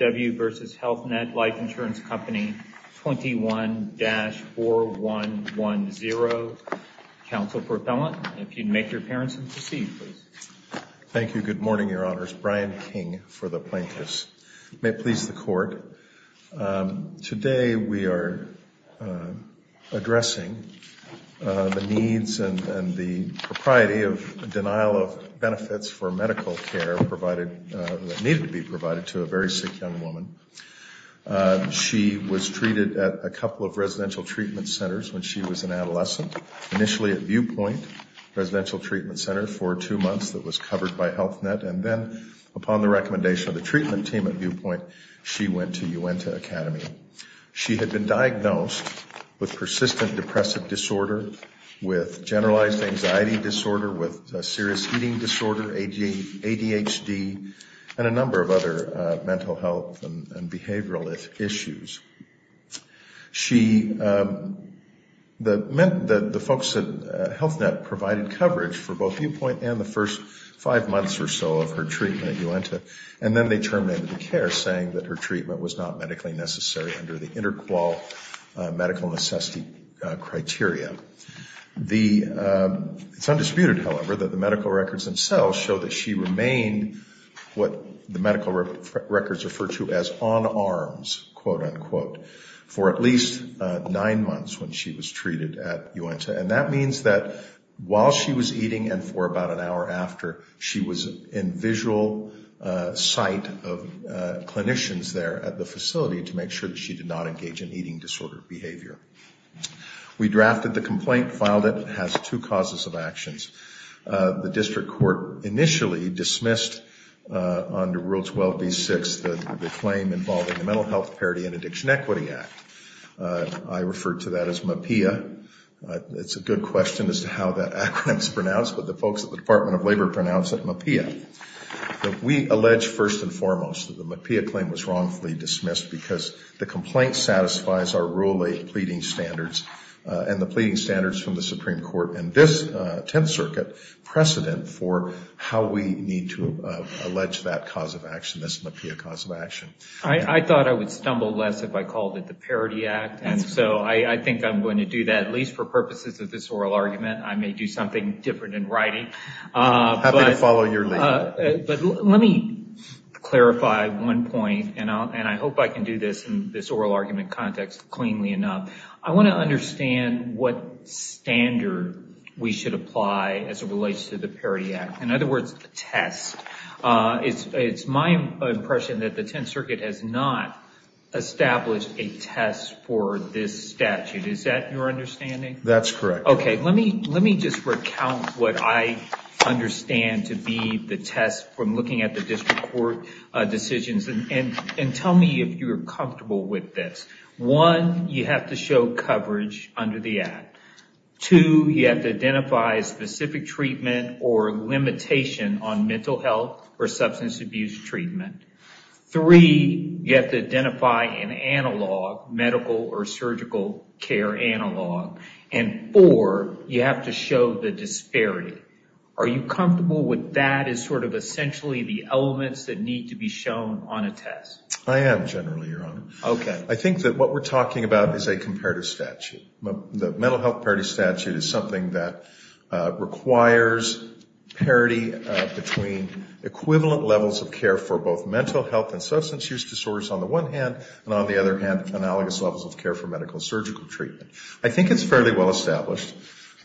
21-4110, Counsel for Appellant. If you'd make your appearance and proceed, please. Thank you. Good morning, Your Honors. Brian King for the Plaintiffs. May it please the Court, today we are addressing the needs and the propriety of denial of benefits for medical care that needed to be provided to a very sick young woman. She was treated at a couple of residential treatment centers when she was an adolescent, initially at Viewpoint Residential Treatment Center for two months that was covered by Health Net, and then upon the recommendation of the treatment team at Viewpoint, she went to Uintah Academy. She had been diagnosed with persistent depressive disorder, with generalized anxiety disorder, with serious eating disorder, ADHD, and a number of other mental health and behavioral issues. She, the folks at Health Net provided coverage for both Viewpoint and the first five months or so of her treatment at Uintah, and then they terminated the care saying that her treatment was not medically necessary under the inter-qual medical necessity criteria. It's undisputed, however, that the medical records themselves show that she remained what the medical records refer to as on arms, quote-unquote, for at least nine months when she was treated at Uintah, and that means that while she was eating and for about an hour after, she was in visual sight of clinicians there at the facility to make sure that she did not engage in eating disorder behavior. We drafted the complaint, filed it, and it has two causes of actions. The district court initially dismissed under Rule 12b-6 the claim involving the Mental Health Parity and Addiction Equity Act. I refer to that as MAPEA. It's a good question as to how that acronym is pronounced, but the folks at the Department of Labor pronounce it MAPEA. But we allege first and foremost that the MAPEA claim was wrongfully dismissed because the complaint satisfies our Rule 8 pleading standards and the pleading standards from the Supreme Court and this Tenth Circuit precedent for how we need to allege that cause of action, this MAPEA cause of action. I thought I would stumble less if I called it the Parity Act, and so I think I'm going to do that, at least for purposes of this oral argument. I may do something different in writing. Happy to follow your lead. Let me clarify one point, and I hope I can do this in this oral argument context cleanly enough. I want to understand what standard we should apply as it relates to the Parity Act. In other words, the test. It's my impression that the Tenth Circuit has not established a test for this statute. Is that your understanding? That's correct. Let me just recount what I understand to be the test from looking at the District Court decisions. Tell me if you're comfortable with this. One, you have to show coverage under the Act. Two, you have to identify specific treatment or limitation on mental health or substance abuse treatment. Three, you have to identify an analog, medical or surgical care analog. And four, you have to show the disparity. Are you comfortable with that as sort of essentially the elements that need to be shown on a test? I am, generally, Your Honor. I think that what we're talking about is a comparative statute. The mental health parity statute is something that requires parity between equivalent levels of care for both mental health and substance use disorders on the one hand, and on the other hand, analogous levels of care for medical and surgical treatment. I think it's fairly well established.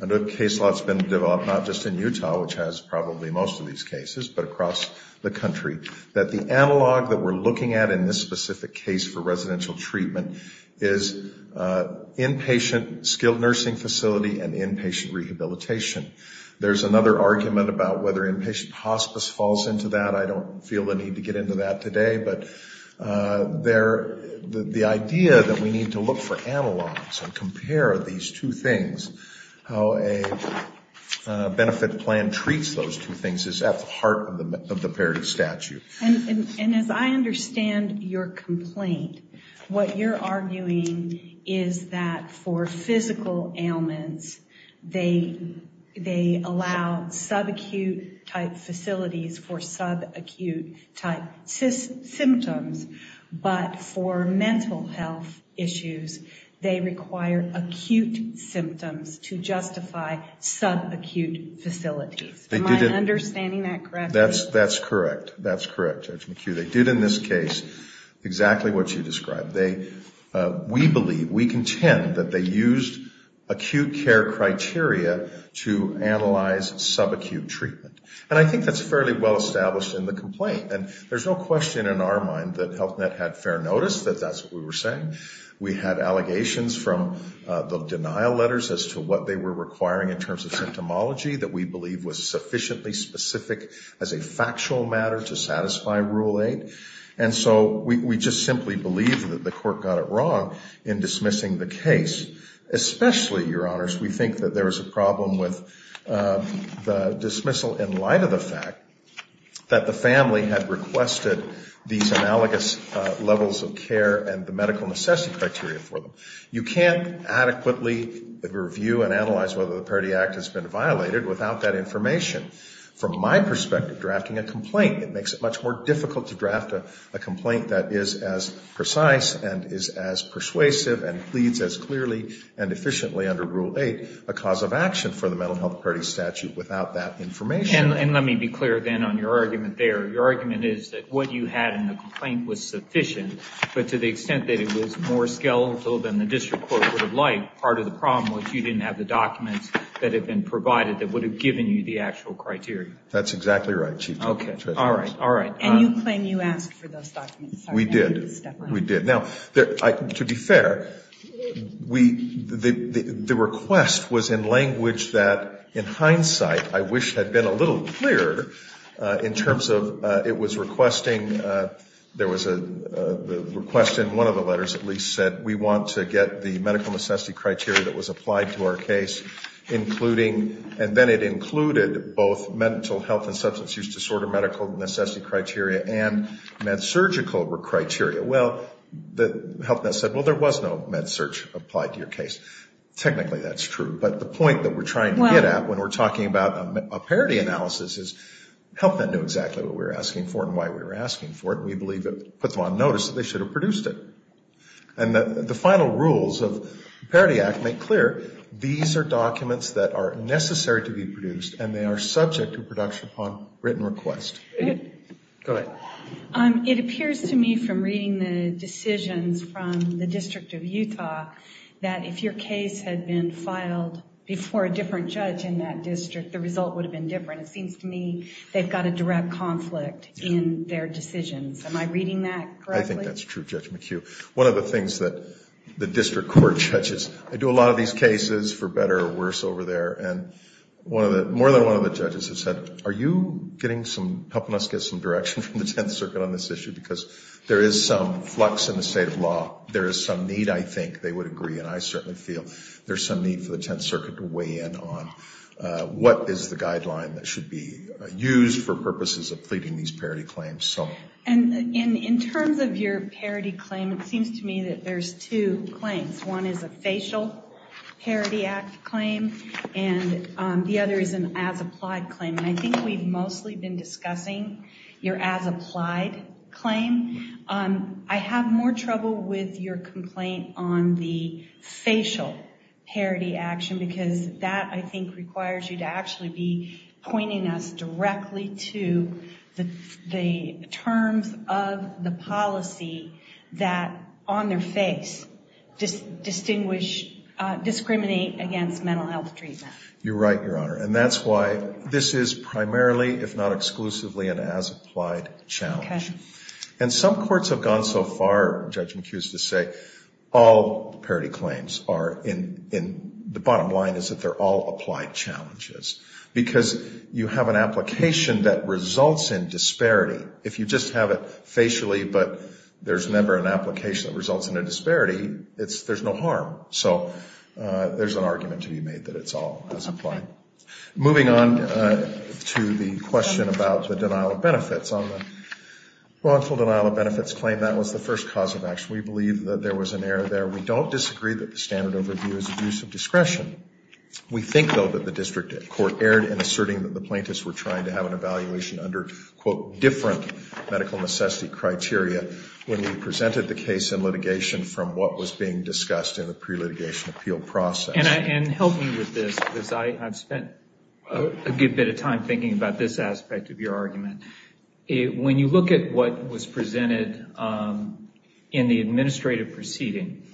I know a case law has been developed not just in Utah, which has probably most of these cases, but across the country, that the analog that we're looking at in this specific case for residential treatment is inpatient skilled nursing facility and inpatient rehabilitation. There's another argument about whether inpatient hospice falls into that. I don't feel the need to get into that today, but the idea that we need to look for analogs and compare these two things, how a benefit plan treats those two things, is at the heart of the parity statute. And as I understand your complaint, what you're arguing is that for physical ailments, they require symptoms, but for mental health issues, they require acute symptoms to justify subacute facilities. Am I understanding that correctly? That's correct. That's correct, Judge McHugh. They did in this case exactly what you described. We believe, we contend, that they used acute care criteria to analyze subacute treatment. And I think that's fairly well established in the complaint. And there's no question in our mind that HealthNet had fair notice that that's what we were saying. We had allegations from the denial letters as to what they were requiring in terms of symptomology that we believe was sufficiently specific as a factual matter to satisfy Rule 8. And so we just simply believe that the court got it wrong in dismissing the case, especially, Your Honors, we think that there is a problem with the dismissal in light of the fact that the family had requested these analogous levels of care and the medical necessity criteria for them. You can't adequately review and analyze whether the Parity Act has been violated without that information. From my perspective, drafting a complaint, it makes it much more difficult to draft a complaint that is as precise and is as persuasive and pleads as clearly and efficiently under Rule 8 a cause of action for And let me be clear, then, on your argument there. Your argument is that what you had in the complaint was sufficient, but to the extent that it was more skeletal than the district court would have liked, part of the problem was you didn't have the documents that have been provided that would have given you the actual criteria. That's exactly right, Chief Justice. Okay. All right. All right. And you claim you asked for those documents. We did. We did. Now, to be fair, the request was in language that, in hindsight, I wish had been a little clearer in terms of it was requesting, there was a request in one of the letters, at least, said, we want to get the medical necessity criteria that was applied to our case, including, and then it included both mental health and substance use disorder medical necessity criteria and med-surgical criteria. Well, the health net said, well, there was no med-surg applied to your case. Technically, that's true, but the point that we're trying to get at when we're talking about a Parity analysis is help them know exactly what we're asking for and why we're asking for it, and we believe it puts them on notice that they should have produced it. And the final rules of the Parity Act make clear these are documents that are necessary to be produced, and they are subject to production upon written request. Go ahead. It appears to me from reading the decisions from the District of Utah that if your case had been filed before a different judge in that district, the result would have been different. It seems to me they've got a direct conflict in their decisions. Am I reading that correctly? I think that's true, Judge McHugh. One of the things that the district court judges, I do a lot of these cases for better or worse over there, and one of the, more than one of the judges has said, are you getting some, helping us get some direction from the Tenth Circuit on this issue? Because there is some flux in the state of law. There is some need, I think they would agree, and I certainly feel there's some need for the Tenth Circuit to work on what is the guideline that should be used for purposes of pleading these Parity claims. And in terms of your Parity claim, it seems to me that there's two claims. One is a facial Parity Act claim, and the other is an as-applied claim. And I think we've mostly been discussing your as-applied claim. I have more trouble with your complaint on the facial Parity action, because that, I think, requires you to actually be pointing us directly to the terms of the policy that, on their face, distinguish, discriminate against mental health treatment. You're right, Your Honor. And that's why this is primarily, if not exclusively, an as-applied challenge. And some courts have gone so far, Judge McHugh used to say, all Parity claims are in the bottom line is that they're all applied challenges, because you have an application that results in disparity. If you just have it facially, but there's never an application that results in a disparity, there's no harm. So there's an argument to be made that it's all as-applied. Moving on to the question about the denial of benefits. On the wrongful denial of benefits claim, that was the first cause of action. We believe that there was an error there. We don't disagree that the standard overview is abuse of discretion. We think, though, that the district court erred in asserting that the plaintiffs were trying to have an evaluation under, quote, different medical necessity criteria when we presented the case in litigation from what was being discussed in the pre-litigation appeal process. And help me with this, because I've spent a good bit of time thinking about this aspect of your argument. When you look at what was presented in the administrative proceeding,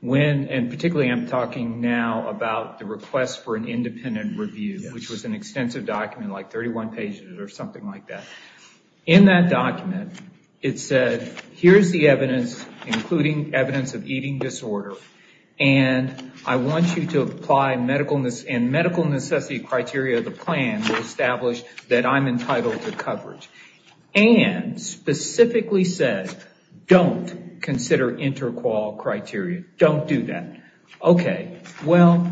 when, and particularly I'm talking now about the request for an independent review, which was an extensive document, like 31 pages or something like that. In that document, it said, here's the evidence, including evidence of eating disorder. And I want you to apply medical necessity criteria of the plan to establish that I'm entitled to coverage. And specifically said, don't consider inter-qual criteria. Don't do that. Okay, well,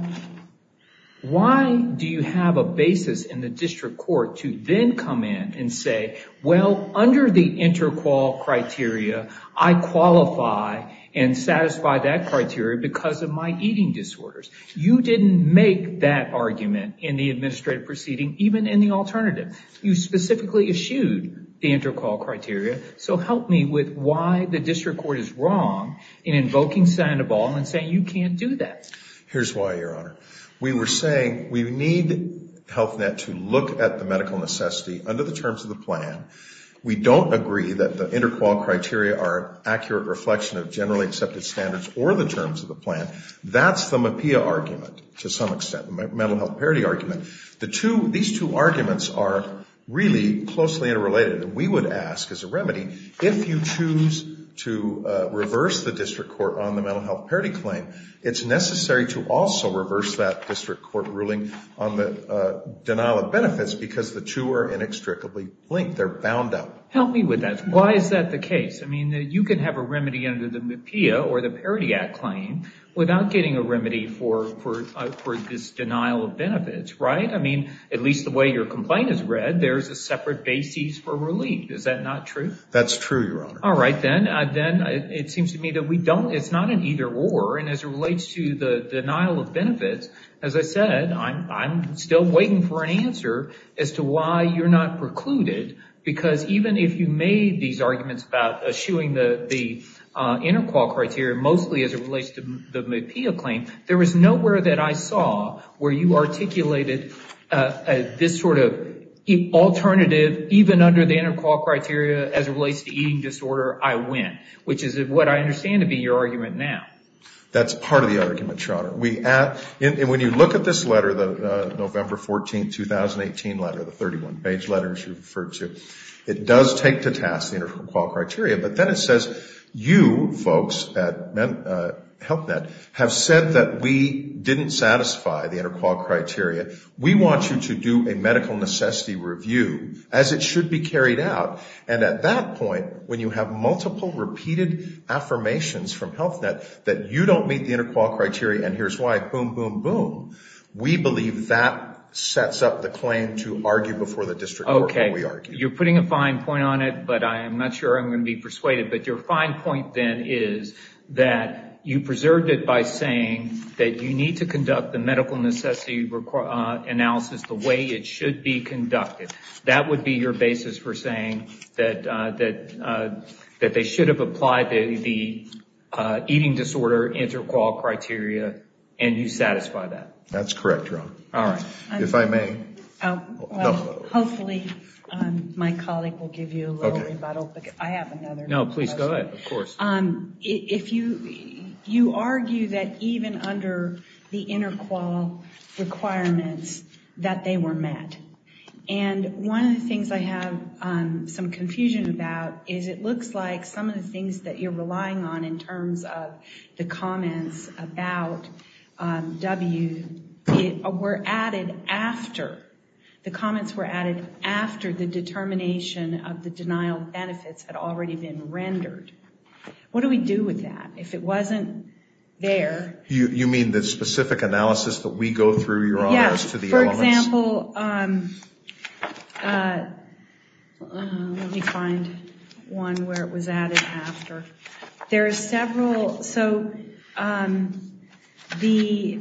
why do you have a basis in the district court to then come in and say, well, under the inter-qual criteria, I qualify and satisfy that criteria because of my eating disorders. You didn't make that argument in the administrative proceeding, even in the alternative. You specifically eschewed the inter-qual criteria. So help me with why the district court is wrong in invoking Sandoval and saying you can't do that. Here's why, Your Honor. We were saying we need HealthNet to look at the medical necessity under the terms of the plan. We don't agree that the inter-qual criteria are accurate reflection of generally accepted standards or the terms of the plan. That's the MHPAEA argument, to some extent, the mental health parity argument. These two arguments are really closely interrelated. And we would ask, as a remedy, if you choose to reverse the district court on the mental health parity claim, it's necessary to also reverse that district court ruling on the denial of benefits because the two are inextricably linked. They're bound up. Help me with that. Why is that the case? I mean, you can have a remedy under the MHPAEA or the Parity Act claim without getting a remedy for this denial of benefits, right? I mean, at least the way your complaint is read, there's a separate basis for relief. Is that not true? That's true, Your Honor. All right, then. Then it seems to me that we don't, it's not an either or. And as it relates to the denial of benefits, as I said, I'm still waiting for an answer as to why you're not precluded. Because even if you made these arguments about eschewing the inter-qual criteria, mostly as it relates to the MHPAEA claim, there was nowhere that I saw where you articulated this sort of alternative, even under the inter-qual criteria, as it relates to eating disorder, I win. Which is what I understand to be your argument now. That's part of the argument, Your Honor. We, and when you look at this letter, the November 14, 2018 letter, the 31-page letter, as you referred to, it does take to task the inter-qual criteria. But then it says, you folks at HealthNet have said that we didn't satisfy the inter-qual criteria. We want you to do a medical necessity review, as it should be carried out. And at that point, when you have multiple repeated affirmations from HealthNet that you don't meet the inter-qual criteria, and here's why, boom, boom, boom, we believe that sets up the claim to argue before the district court when we argue. You're putting a fine point on it, but I'm not sure I'm going to be persuaded. But your fine point then is that you preserved it by saying that you need to conduct the medical necessity analysis the way it should be conducted. That would be your basis for saying that they should have applied the eating disorder inter-qual criteria, and you satisfy that. That's correct, Your Honor. All right. If I may? Hopefully, my colleague will give you a little rebuttal, but I have another question. No, please go ahead, of course. If you argue that even under the inter-qual requirements that they were met, and one of the things I have some confusion about is it looks like some of the things that you're relying on in terms of the comments about W were added after. The comments were added after the determination of the denial of benefits had already been rendered. What do we do with that? If it wasn't there? You mean the specific analysis that we go through, Your Honor, as to the elements? For example, let me find one where it was added after. There are several. So the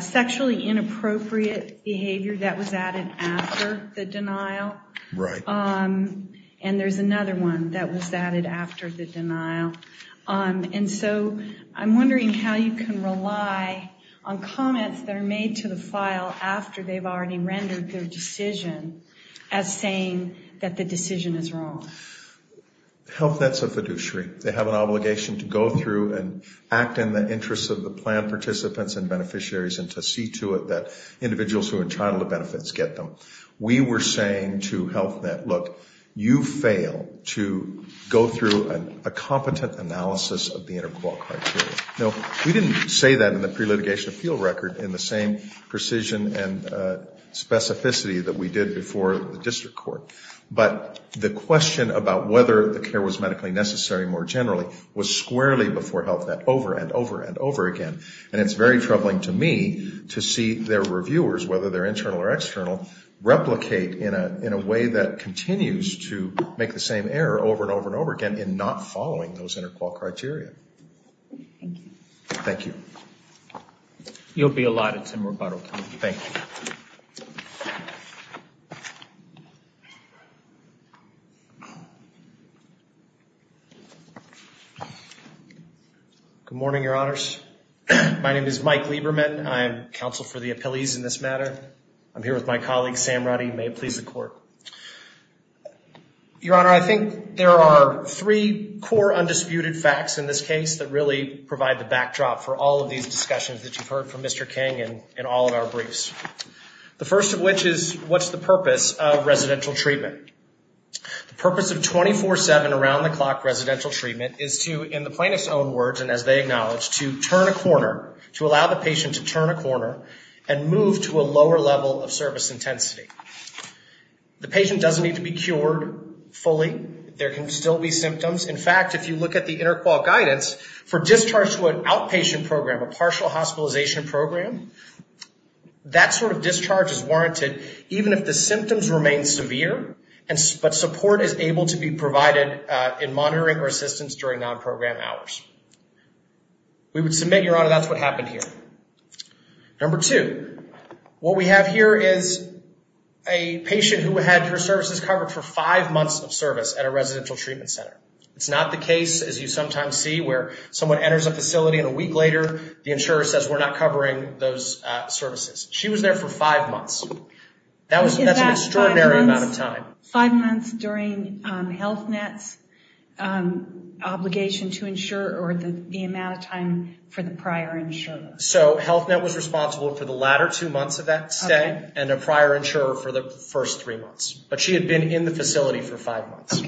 sexually inappropriate behavior that was added after the denial, and there's another one that was added after the denial. And so I'm wondering how you can rely on comments that are made to the file after they've already rendered their decision as saying that the decision is wrong. Health Net's a fiduciary. They have an obligation to go through and act in the interests of the plan participants and beneficiaries and to see to it that individuals who are entitled to benefits get them. We were saying to Health Net, look, you fail to go through a competent analysis of the inter-court criteria. Now, we didn't say that in the pre-litigation appeal record in the same precision and specificity that we did before the district court, but the question about whether the care was medically necessary more generally was squarely before Health Net over and over and over again, and it's very troubling to me to see their reviewers, whether they're internal or external, replicate in a way that continues to make the same error over and over and over again in not following those inter-court criteria. Thank you. You'll be allotted some rebuttal. Thank you. Good morning, Your Honors. My name is Mike Lieberman. I am counsel for the appellees in this matter. I'm here with my colleague, Sam Roddy. May it please the court. Your Honor, I think there are three core undisputed facts in this case that really provide the backdrop for all of these discussions that you've heard from Mr. King and all of our briefs. The first of which is, what's the purpose of residential treatment? The purpose of 24-7 around-the-clock residential treatment is to, in the plaintiff's own words and as they acknowledge, to turn a corner, to allow the patient to turn a corner and move to a lower level of service intensity. The patient doesn't need to be cured fully. There can still be symptoms. In fact, if you look at the inter-court guidance for discharge to an outpatient program, a partial hospitalization program, that sort of discharge is warranted even if the symptoms remain severe, but support is able to be provided in monitoring or assistance during non-program hours. We would submit, Your Honor, that's what happened here. Number two, what we have here is a patient who had her services covered for five months of service at a residential treatment center. It's not the case, as you sometimes see, where someone enters a facility and a week later, the insurer says, we're not covering those services. She was there for five months. That's an extraordinary amount of time. Five months during Health Net's obligation to insure or the amount of time for the prior insurer. So Health Net was responsible for the latter two months of that stay and a prior insurer for the first three months. But she had been in the facility for five months.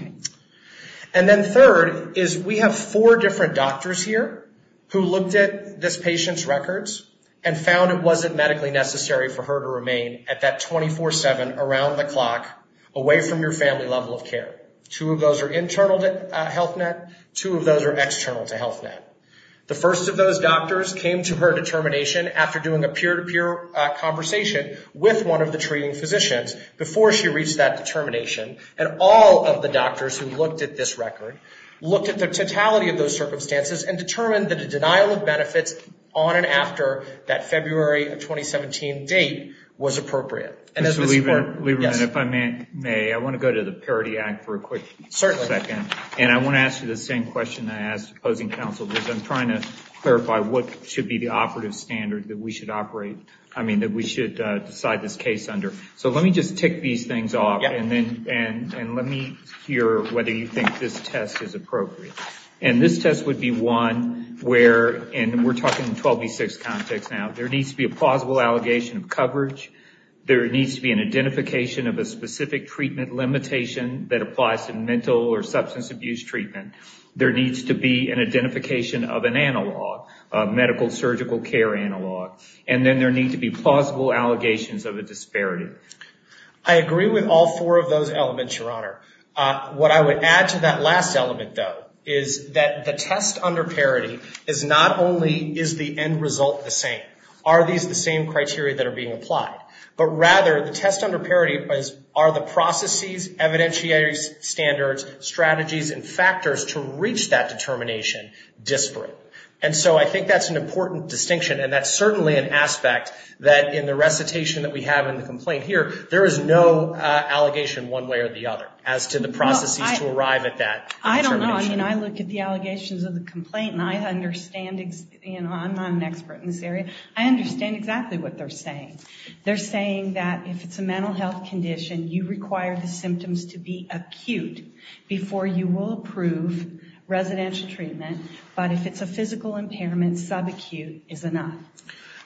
And then third is we have four different doctors here who looked at this patient's records and found it wasn't medically necessary for her to remain at that 24-7, around the clock, away from your family level of care. Two of those are internal to Health Net, two of those are external to Health Net. The first of those doctors came to her determination after doing a peer-to-peer conversation with one of the treating physicians before she reached that determination. And all of the doctors who looked at this record, looked at the totality of those circumstances and determined that a denial of benefits on and after that February of 2017 date was appropriate. And as we support... Lieberman, if I may, I want to go to the Parity Act for a quick second. Certainly. And I want to ask you the same question I asked opposing counsel. Because I'm trying to clarify what should be the operative standard that we should decide this case under. So let me just tick these things off and let me hear whether you think this test is appropriate. And this test would be one where... And we're talking 12B6 context now. There needs to be a plausible allegation of coverage. There needs to be an identification of a specific treatment limitation that applies to mental or substance abuse treatment. There needs to be an identification of an analog, a medical surgical care analog. And then there needs to be plausible allegations of a disparity. I agree with all four of those elements, Your Honor. What I would add to that last element, though, is that the test under parity is not only is the end result the same. Are these the same criteria that are being applied? But rather the test under parity are the processes, evidentiaries, standards, strategies, and factors to reach that determination disparate. And so I think that's an important distinction. And that's certainly an aspect that in the recitation that we have in the complaint here, there is no allegation one way or the other as to the processes to arrive at that determination. I don't know. I mean, I look at the allegations of the complaint and I understand, you know, I'm not an expert in this area. I understand exactly what they're saying. They're saying that if it's a mental health condition, you require the symptoms to be acute before you will approve residential treatment. But if it's a physical impairment, subacute is enough.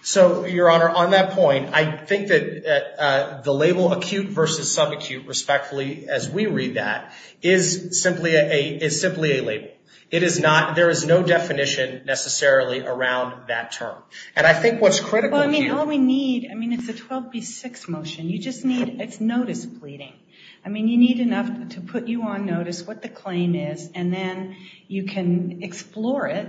So, Your Honor, on that point, I think that the label acute versus subacute, respectfully, as we read that, is simply a label. It is not. There is no definition necessarily around that term. And I think what's critical here. I mean, all we need. I mean, it's a 12B6 motion. You just need it's notice pleading. I mean, you need enough to put you on notice what the claim is and then you can explore it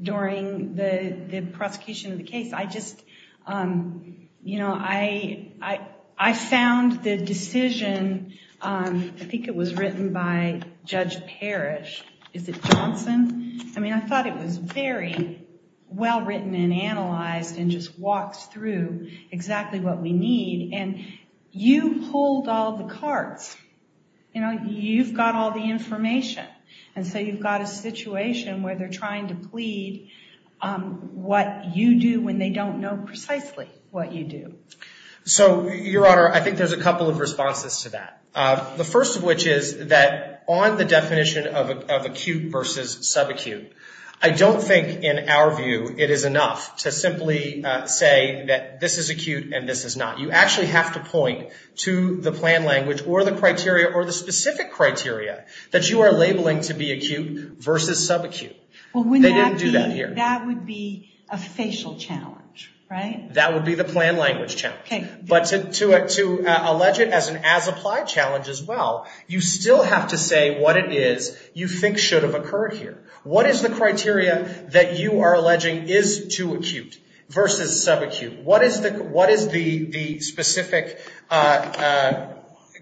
during the prosecution of the case. I just, you know, I found the decision. I think it was written by Judge Parrish. Is it Johnson? I mean, I thought it was very well written and analyzed and just walks through exactly what we need. And you pulled all the cards. You know, you've got all the information. And so you've got a situation where they're trying to plead what you do when they don't know precisely what you do. So, Your Honor, I think there's a couple of responses to that. The first of which is that on the definition of acute versus subacute, I don't think in our view it is enough to simply say that this is acute and this is not. You actually have to point to the plan language or the criteria or the specific criteria that you are labeling to be acute versus subacute. They didn't do that here. That would be a facial challenge, right? That would be the plan language challenge. But to allege it as an as-applied challenge as well, you still have to say what it is you think should have occurred here. What is the criteria that you are alleging is too acute versus subacute? What is the specific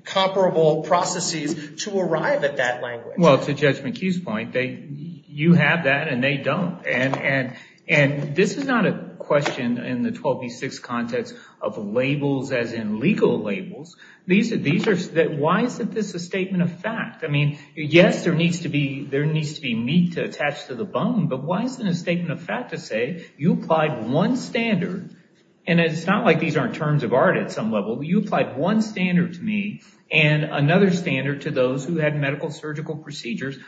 comparable processes to arrive at that language? Well, to Judge McHugh's point, you have that and they don't. And this is not a question in the 12 v. 6 context of labels as in legal labels. Why isn't this a statement of fact? I mean, yes, there needs to be meat to attach to the bone. But why isn't it a statement of fact to say you applied one standard? And it's not like these aren't terms of art at some level. You applied one standard to me and another standard to those who had medical surgical procedures.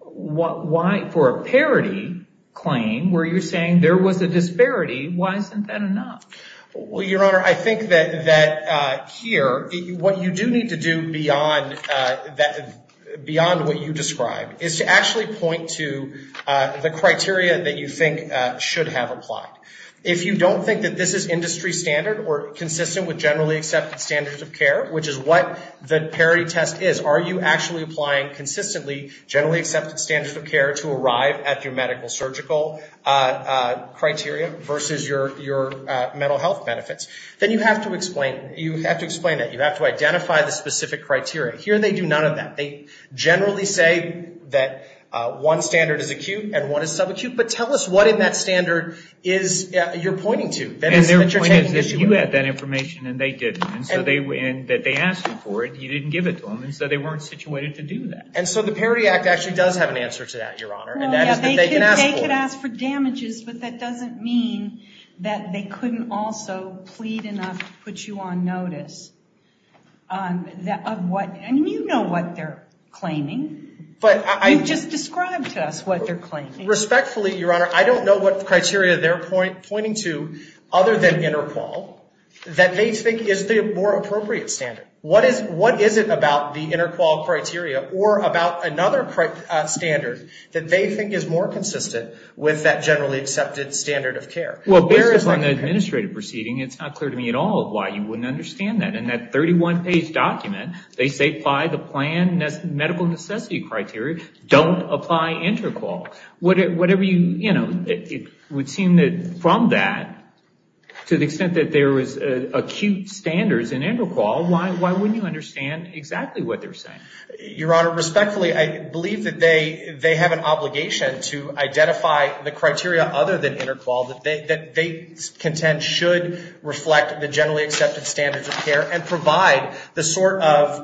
Why, for a parity claim, were you saying there was a disparity? Why isn't that enough? Well, Your Honor, I think that here, what you do need to do beyond what you describe is to actually point to the criteria that you think should have applied. If you don't think that this is industry standard or consistent with generally accepted standards of care, which is what the parity test is, are you actually applying consistently generally accepted standards of care to arrive at your medical surgical criteria versus your mental health benefits? Then you have to explain it. You have to identify the specific criteria. Here, they do none of that. They generally say that one standard is acute and one is subacute. But tell us what in that standard you're pointing to. And their point is that you had that information and they didn't. And so they asked you for it. You didn't give it to them. And so they weren't situated to do that. And so the Parity Act actually does have an answer to that, Your Honor. And that is that they can ask for it. They could ask for damages. But that doesn't mean that they couldn't also plead enough to put you on notice. And you know what they're claiming. You just described to us what they're claiming. Respectfully, Your Honor, I don't know what criteria they're pointing to other than interqual that they think is the more appropriate standard. What is it about the interqual criteria or about another standard that they think is more consistent with that generally accepted standard of care? Well, based on the administrative proceeding, it's not clear to me at all why you wouldn't understand that. In that 31-page document, they say apply the planned medical necessity criteria. Don't apply interqual. Whatever you, you know, it would seem that from that, to the extent that there was acute standards in interqual, why wouldn't you understand exactly what they're saying? Your Honor, respectfully, I believe that they have an obligation to identify the criteria other than interqual that they contend should reflect the generally accepted standards of care and provide the sort of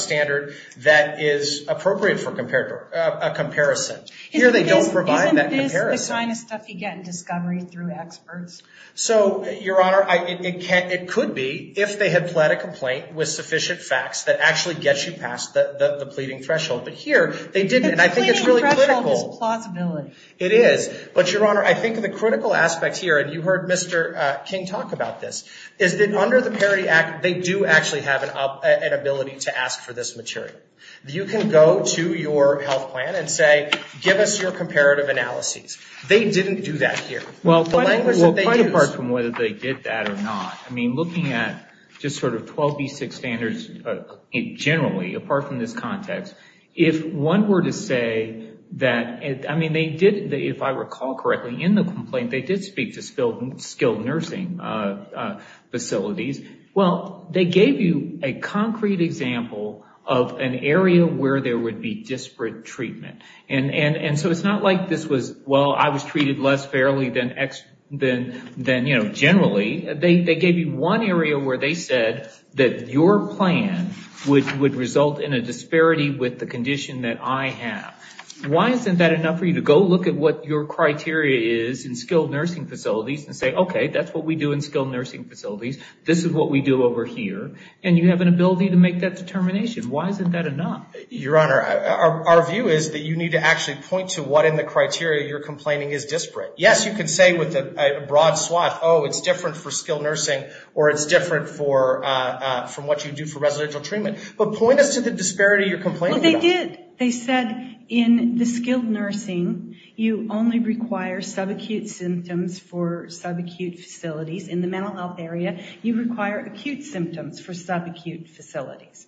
standard that is appropriate for a comparison. Here, they don't provide that comparison. Isn't this the kind of stuff you get in discovery through experts? So, Your Honor, it could be if they had pled a complaint with sufficient facts that actually gets you past the pleading threshold. But here, they didn't. And I think it's really critical. But the pleading threshold is plausibility. It is. But, Your Honor, I think the critical aspect here, and you heard Mr. King talk about this, is that under the Parity Act, they do actually have an ability to ask for this material. You can go to your health plan and say, give us your comparative analyses. They didn't do that here. Well, quite apart from whether they did that or not. I mean, looking at just sort of 12B6 standards generally, apart from this context, if one were to say that, I mean, they did, if I recall correctly, in the complaint, they did speak to facilities. Well, they gave you a concrete example of an area where there would be disparate treatment. And so it's not like this was, well, I was treated less fairly than, you know, generally. They gave you one area where they said that your plan would result in a disparity with the condition that I have. Why isn't that enough for you to go look at what your criteria is in skilled nursing facilities? This is what we do over here. And you have an ability to make that determination. Why isn't that enough? Your Honor, our view is that you need to actually point to what in the criteria you're complaining is disparate. Yes, you can say with a broad swath, oh, it's different for skilled nursing, or it's different from what you do for residential treatment. But point us to the disparity you're complaining about. Well, they did. They said in the skilled nursing, you only require subacute symptoms for subacute facilities. In the mental health area, you require acute symptoms for subacute facilities.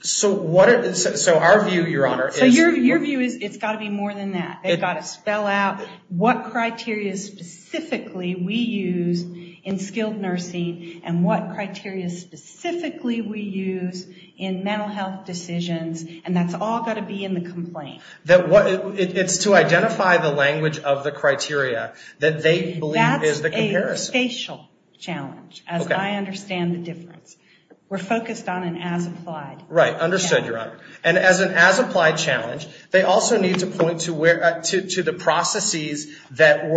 So our view, Your Honor, is... So your view is it's got to be more than that. They've got to spell out what criteria specifically we use in skilled nursing and what criteria specifically we use in mental health decisions. And that's all got to be in the complaint. It's to identify the language of the criteria that they believe is the comparison. Facial challenge, as I understand the difference. We're focused on an as-applied. Right. Understood, Your Honor. And as an as-applied challenge, they also need to point to the processes that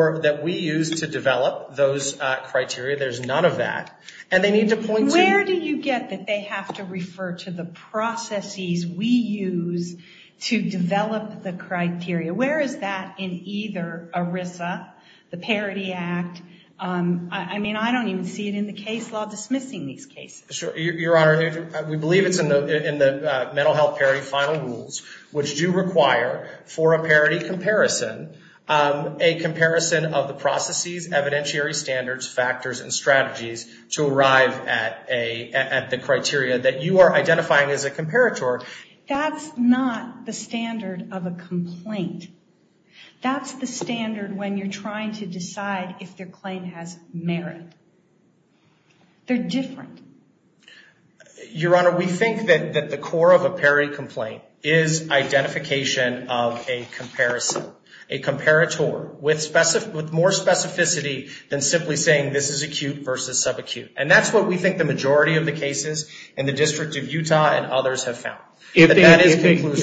we use to develop those criteria. There's none of that. And they need to point to... Where do you get that they have to refer to the processes we use to develop the criteria? Where is that in either ERISA, the Parity Act? I mean, I don't even see it in the case law dismissing these cases. Sure. Your Honor, we believe it's in the mental health parity final rules, which do require for a parity comparison, a comparison of the processes, evidentiary standards, factors, and strategies to arrive at the criteria that you are identifying as a comparator. That's not the standard of a complaint. That's the standard when you're trying to decide if their claim has merit. They're different. Your Honor, we think that the core of a parity complaint is identification of a comparison, a comparator with more specificity than simply saying this is acute versus subacute. And that's what we think the majority of the cases in the District of Utah and others have found. If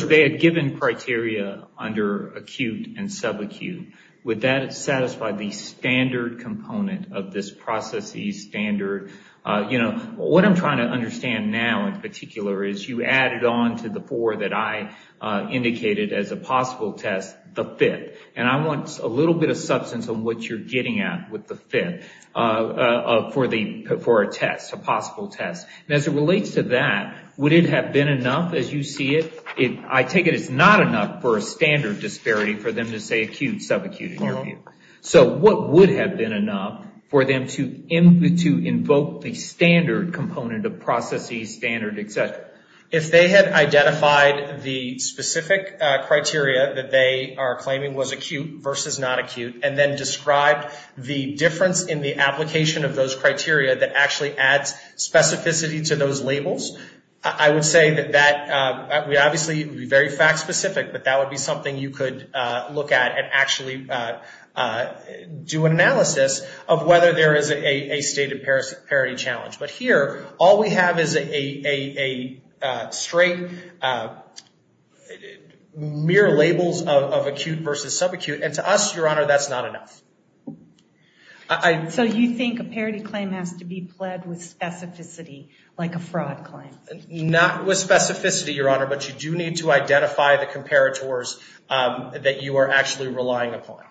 they had given criteria under acute and subacute, would that satisfy the standard component of this processes standard? What I'm trying to understand now in particular is you added on to the four that I indicated as a possible test, the fifth. And I want a little bit of substance on what you're getting at with the fifth for a test, a possible test. And as it relates to that, would it have been enough as you see it? I take it it's not enough for a standard disparity for them to say acute, subacute in your view. So what would have been enough for them to invoke the standard component of processes standard, et cetera? If they had identified the specific criteria that they are claiming was acute versus not acute, and then described the difference in the application of those criteria that actually adds specificity to those labels, I would say that that would obviously be very fact specific, but that would be something you could look at and actually do an analysis of whether there is a stated parity challenge. But here, all we have is a straight, mere labels of acute versus subacute. And to us, Your Honor, that's not enough. So you think a parity claim has to be pled with specificity, like a fraud claim? Not with specificity, Your Honor. But you do need to identify the comparators that you are actually relying upon.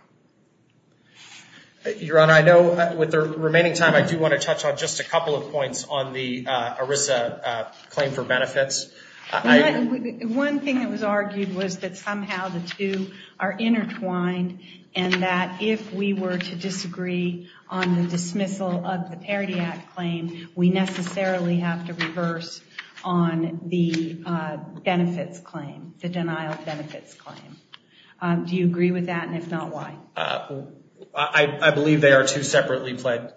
Your Honor, I know with the remaining time, I do want to touch on just a couple of points on the ERISA claim for benefits. Well, one thing that was argued was that somehow the two are intertwined, and that if we were to disagree on the dismissal of the Parity Act claim, we necessarily have to reverse on the benefits claim, the denial of benefits claim. Do you agree with that? And if not, why? I believe they are two separately pled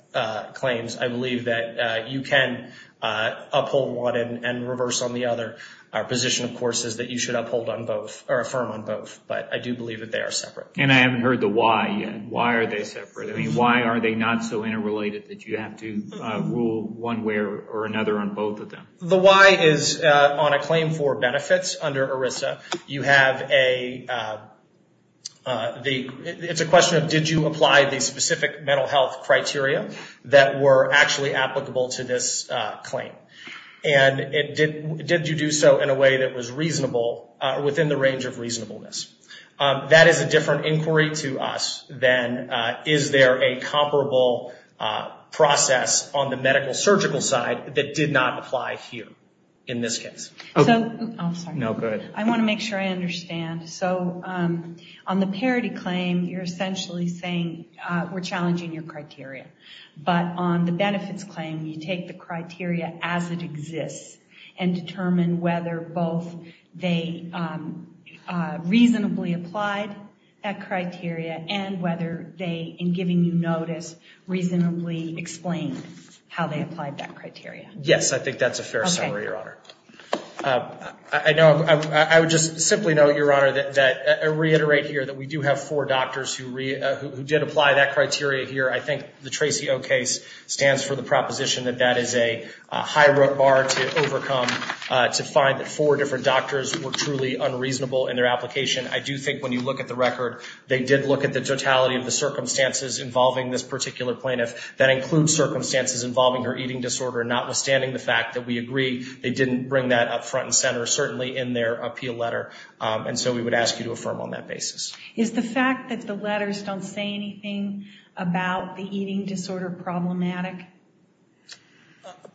claims. I believe that you can uphold one and reverse on the other. Our position, of course, is that you should uphold on both, or affirm on both. But I do believe that they are separate. And I haven't heard the why yet. Why are they separate? I mean, why are they not so interrelated that you have to rule one way or another on both of them? The why is on a claim for benefits under ERISA. You have a... It's a question of, did you apply the specific mental health criteria that were actually applicable to this claim? And did you do so in a way that was reasonable, within the range of reasonableness? That is a different inquiry to us than, is there a comparable process on the medical surgical side that did not apply here, in this case? So, I'm sorry. No, go ahead. I want to make sure I understand. So, on the parity claim, you're essentially saying, we're challenging your criteria. But on the benefits claim, you take the criteria as it exists, and determine whether both they reasonably applied that criteria, and whether they, in giving you notice, reasonably explained how they applied that criteria. Yes, I think that's a fair summary, Your Honor. I know, I would just simply note, Your Honor, that I reiterate here that we do have four doctors who did apply that criteria here. I think the Tracy O case stands for the proposition that that is a high bar to overcome, to find that four different doctors were truly unreasonable in their application. I do think when you look at the record, they did look at the totality of the circumstances involving this particular plaintiff. That includes circumstances involving her eating disorder, notwithstanding the fact that we agree, they didn't bring that up front and center, certainly in their appeal letter. And so, we would ask you to affirm on that basis. Is the fact that the letters don't say anything about the eating disorder problematic?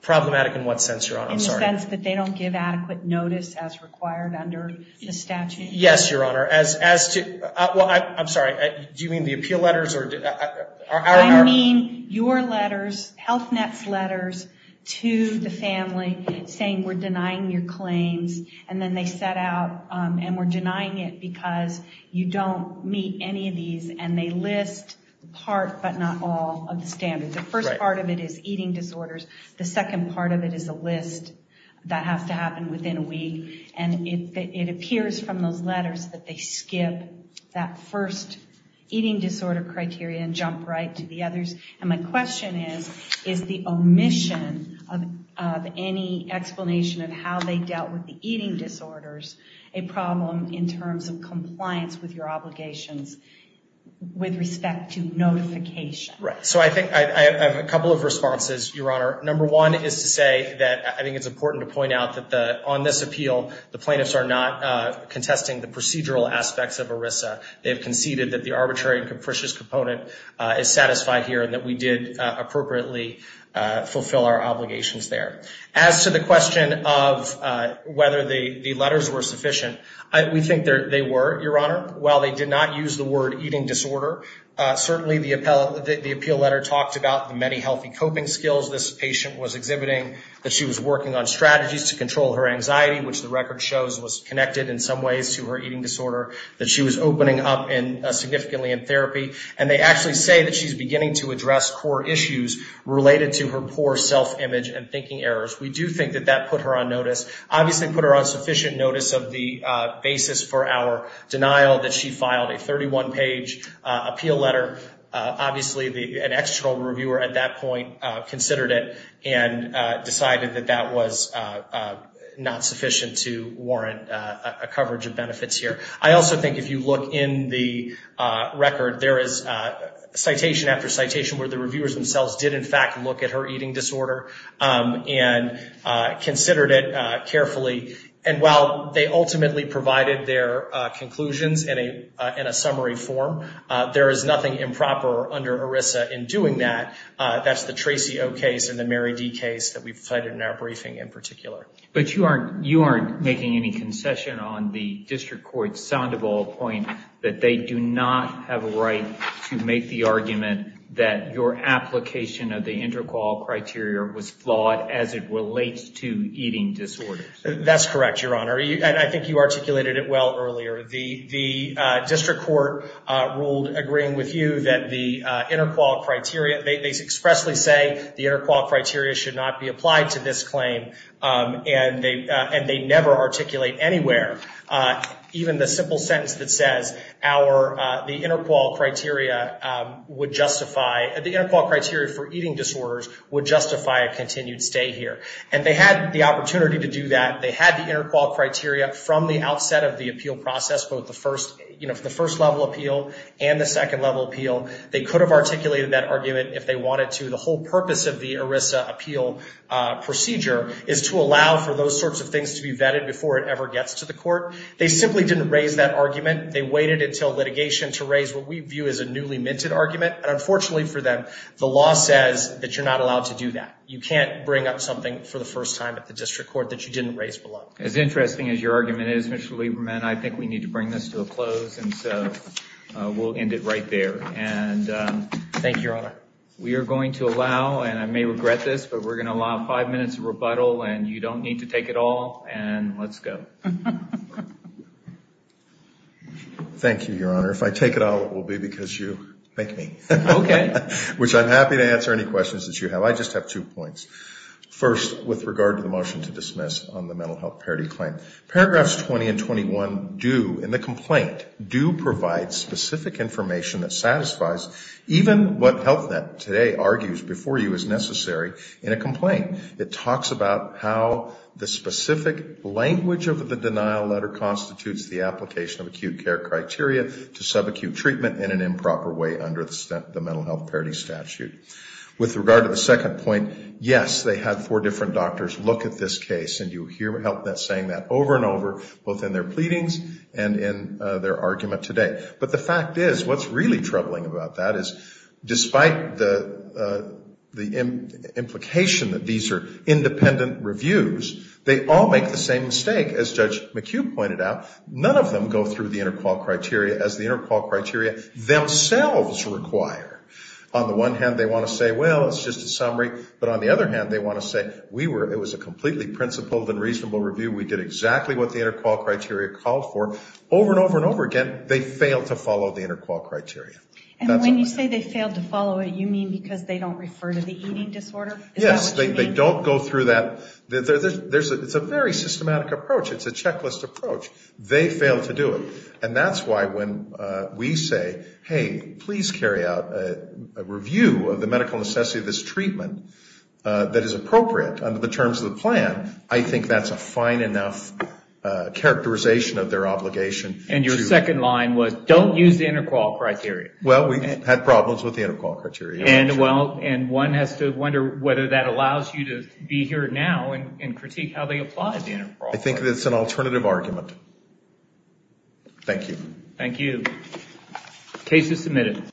Problematic in what sense, Your Honor? In the sense that they don't give adequate notice as required under the statute? Yes, Your Honor. As to, well, I'm sorry. Do you mean the appeal letters? I mean your letters, Health Net's letters to the family saying, we're denying your claims. And then they set out, and we're denying it because you don't meet any of these. And they list part, but not all, of the standards. The first part of it is eating disorders. The second part of it is a list that has to happen within a week. And it appears from those letters that they skip that first eating disorder criteria and jump right to the others. And my question is, is the omission of any explanation of how they dealt with the eating disorders a problem in terms of compliance with your obligations with respect to notification? Right. So, I think I have a couple of responses, Your Honor. Number one is to say that I think it's important to point out that on this appeal, the plaintiffs are not contesting the procedural aspects of ERISA. They have conceded that the arbitrary and capricious component is satisfied here and that we did appropriately fulfill our obligations there. As to the question of whether the letters were sufficient, we think they were, Your Honor. While they did not use the word eating disorder, certainly the appeal letter talked about the many healthy coping skills this patient was exhibiting, that she was working on strategies to control her anxiety, which the record shows was connected in some ways to her eating disorder, that she was opening up significantly in therapy. And they actually say that she's beginning to address core issues related to her poor self-image and thinking errors. We do think that that put her on notice. Obviously, it put her on sufficient notice of the basis for our denial that she filed a 31-page appeal letter. Obviously, an external reviewer at that point considered it and decided that that was not sufficient to warrant a coverage of benefits here. I also think if you look in the record, there is citation after citation where the reviewers themselves did, in fact, look at her eating disorder and considered it carefully. And while they ultimately provided their conclusions in a summary form, there is nothing improper under ERISA in doing that. That's the Tracy O. case and the Mary D. case that we've cited in our briefing in particular. But you aren't making any concession on the district court's Sandoval point that they do not have a right to make the argument that your application of the intercourt criteria was flawed as it relates to eating disorders. That's correct, Your Honor. I think you articulated it well earlier. The district court ruled agreeing with you that the intercourt criteria, they expressly say the intercourt criteria should not be applied to this claim, and they never articulate anywhere. Even the simple sentence that says the intercourt criteria for eating disorders would justify a continued stay here. And they had the opportunity to do that. They had the intercourt criteria from the outset of the appeal process, both the first level appeal and the second level appeal. They could have articulated that argument if they wanted to. The whole purpose of the ERISA appeal procedure is to allow for those sorts of things to be vetted before it ever gets to the court. They simply didn't raise that argument. They waited until litigation to raise what we view as a newly minted argument. And unfortunately for them, the law says that you're not allowed to do that. You can't bring up something for the first time at the district court that you didn't raise below. As interesting as your argument is, Mr. Lieberman, I think we need to bring this to a close. And so we'll end it right there. And thank you, Your Honor. We are going to allow, and I may regret this, but we're going to allow five minutes of rebuttal. And you don't need to take it all. And let's go. Thank you, Your Honor. If I take it all, it will be because you thank me. Okay. Which I'm happy to answer any questions that you have. I just have two points. First, with regard to the motion to dismiss on the mental health parity claim. Paragraphs 20 and 21 do, in the complaint, do provide specific information that satisfies even what HealthNet today argues before you is necessary in a complaint. It talks about how the specific language of the denial letter constitutes the application of acute care criteria to subacute treatment in an improper way under the mental health parity statute. With regard to the second point, yes, they had four different doctors look at this case. And you hear HealthNet saying that over and over, both in their pleadings and in their argument today. But the fact is, what's really troubling about that is, despite the implication that these are independent reviews, they all make the same mistake, as Judge McHugh pointed out. None of them go through the interqual criteria as the interqual criteria themselves require. On the one hand, they want to say, well, it's just a summary. But on the other hand, they want to say, it was a completely principled and reasonable review. We did exactly what the interqual criteria called for. Over and over and over again, they fail to follow the interqual criteria. And when you say they failed to follow it, you mean because they don't refer to the eating disorder? Yes, they don't go through that. It's a very systematic approach. It's a checklist approach. They fail to do it. And that's why when we say, hey, please carry out a review of the medical necessity of this treatment that is appropriate under the terms of the plan, I think that's a fine enough characterization of their obligation. And your second line was, don't use the interqual criteria. Well, we had problems with the interqual criteria. And one has to wonder whether that allows you to be here now and critique how they apply the interqual criteria. I think it's an alternative argument. Thank you. Thank you. Case is submitted.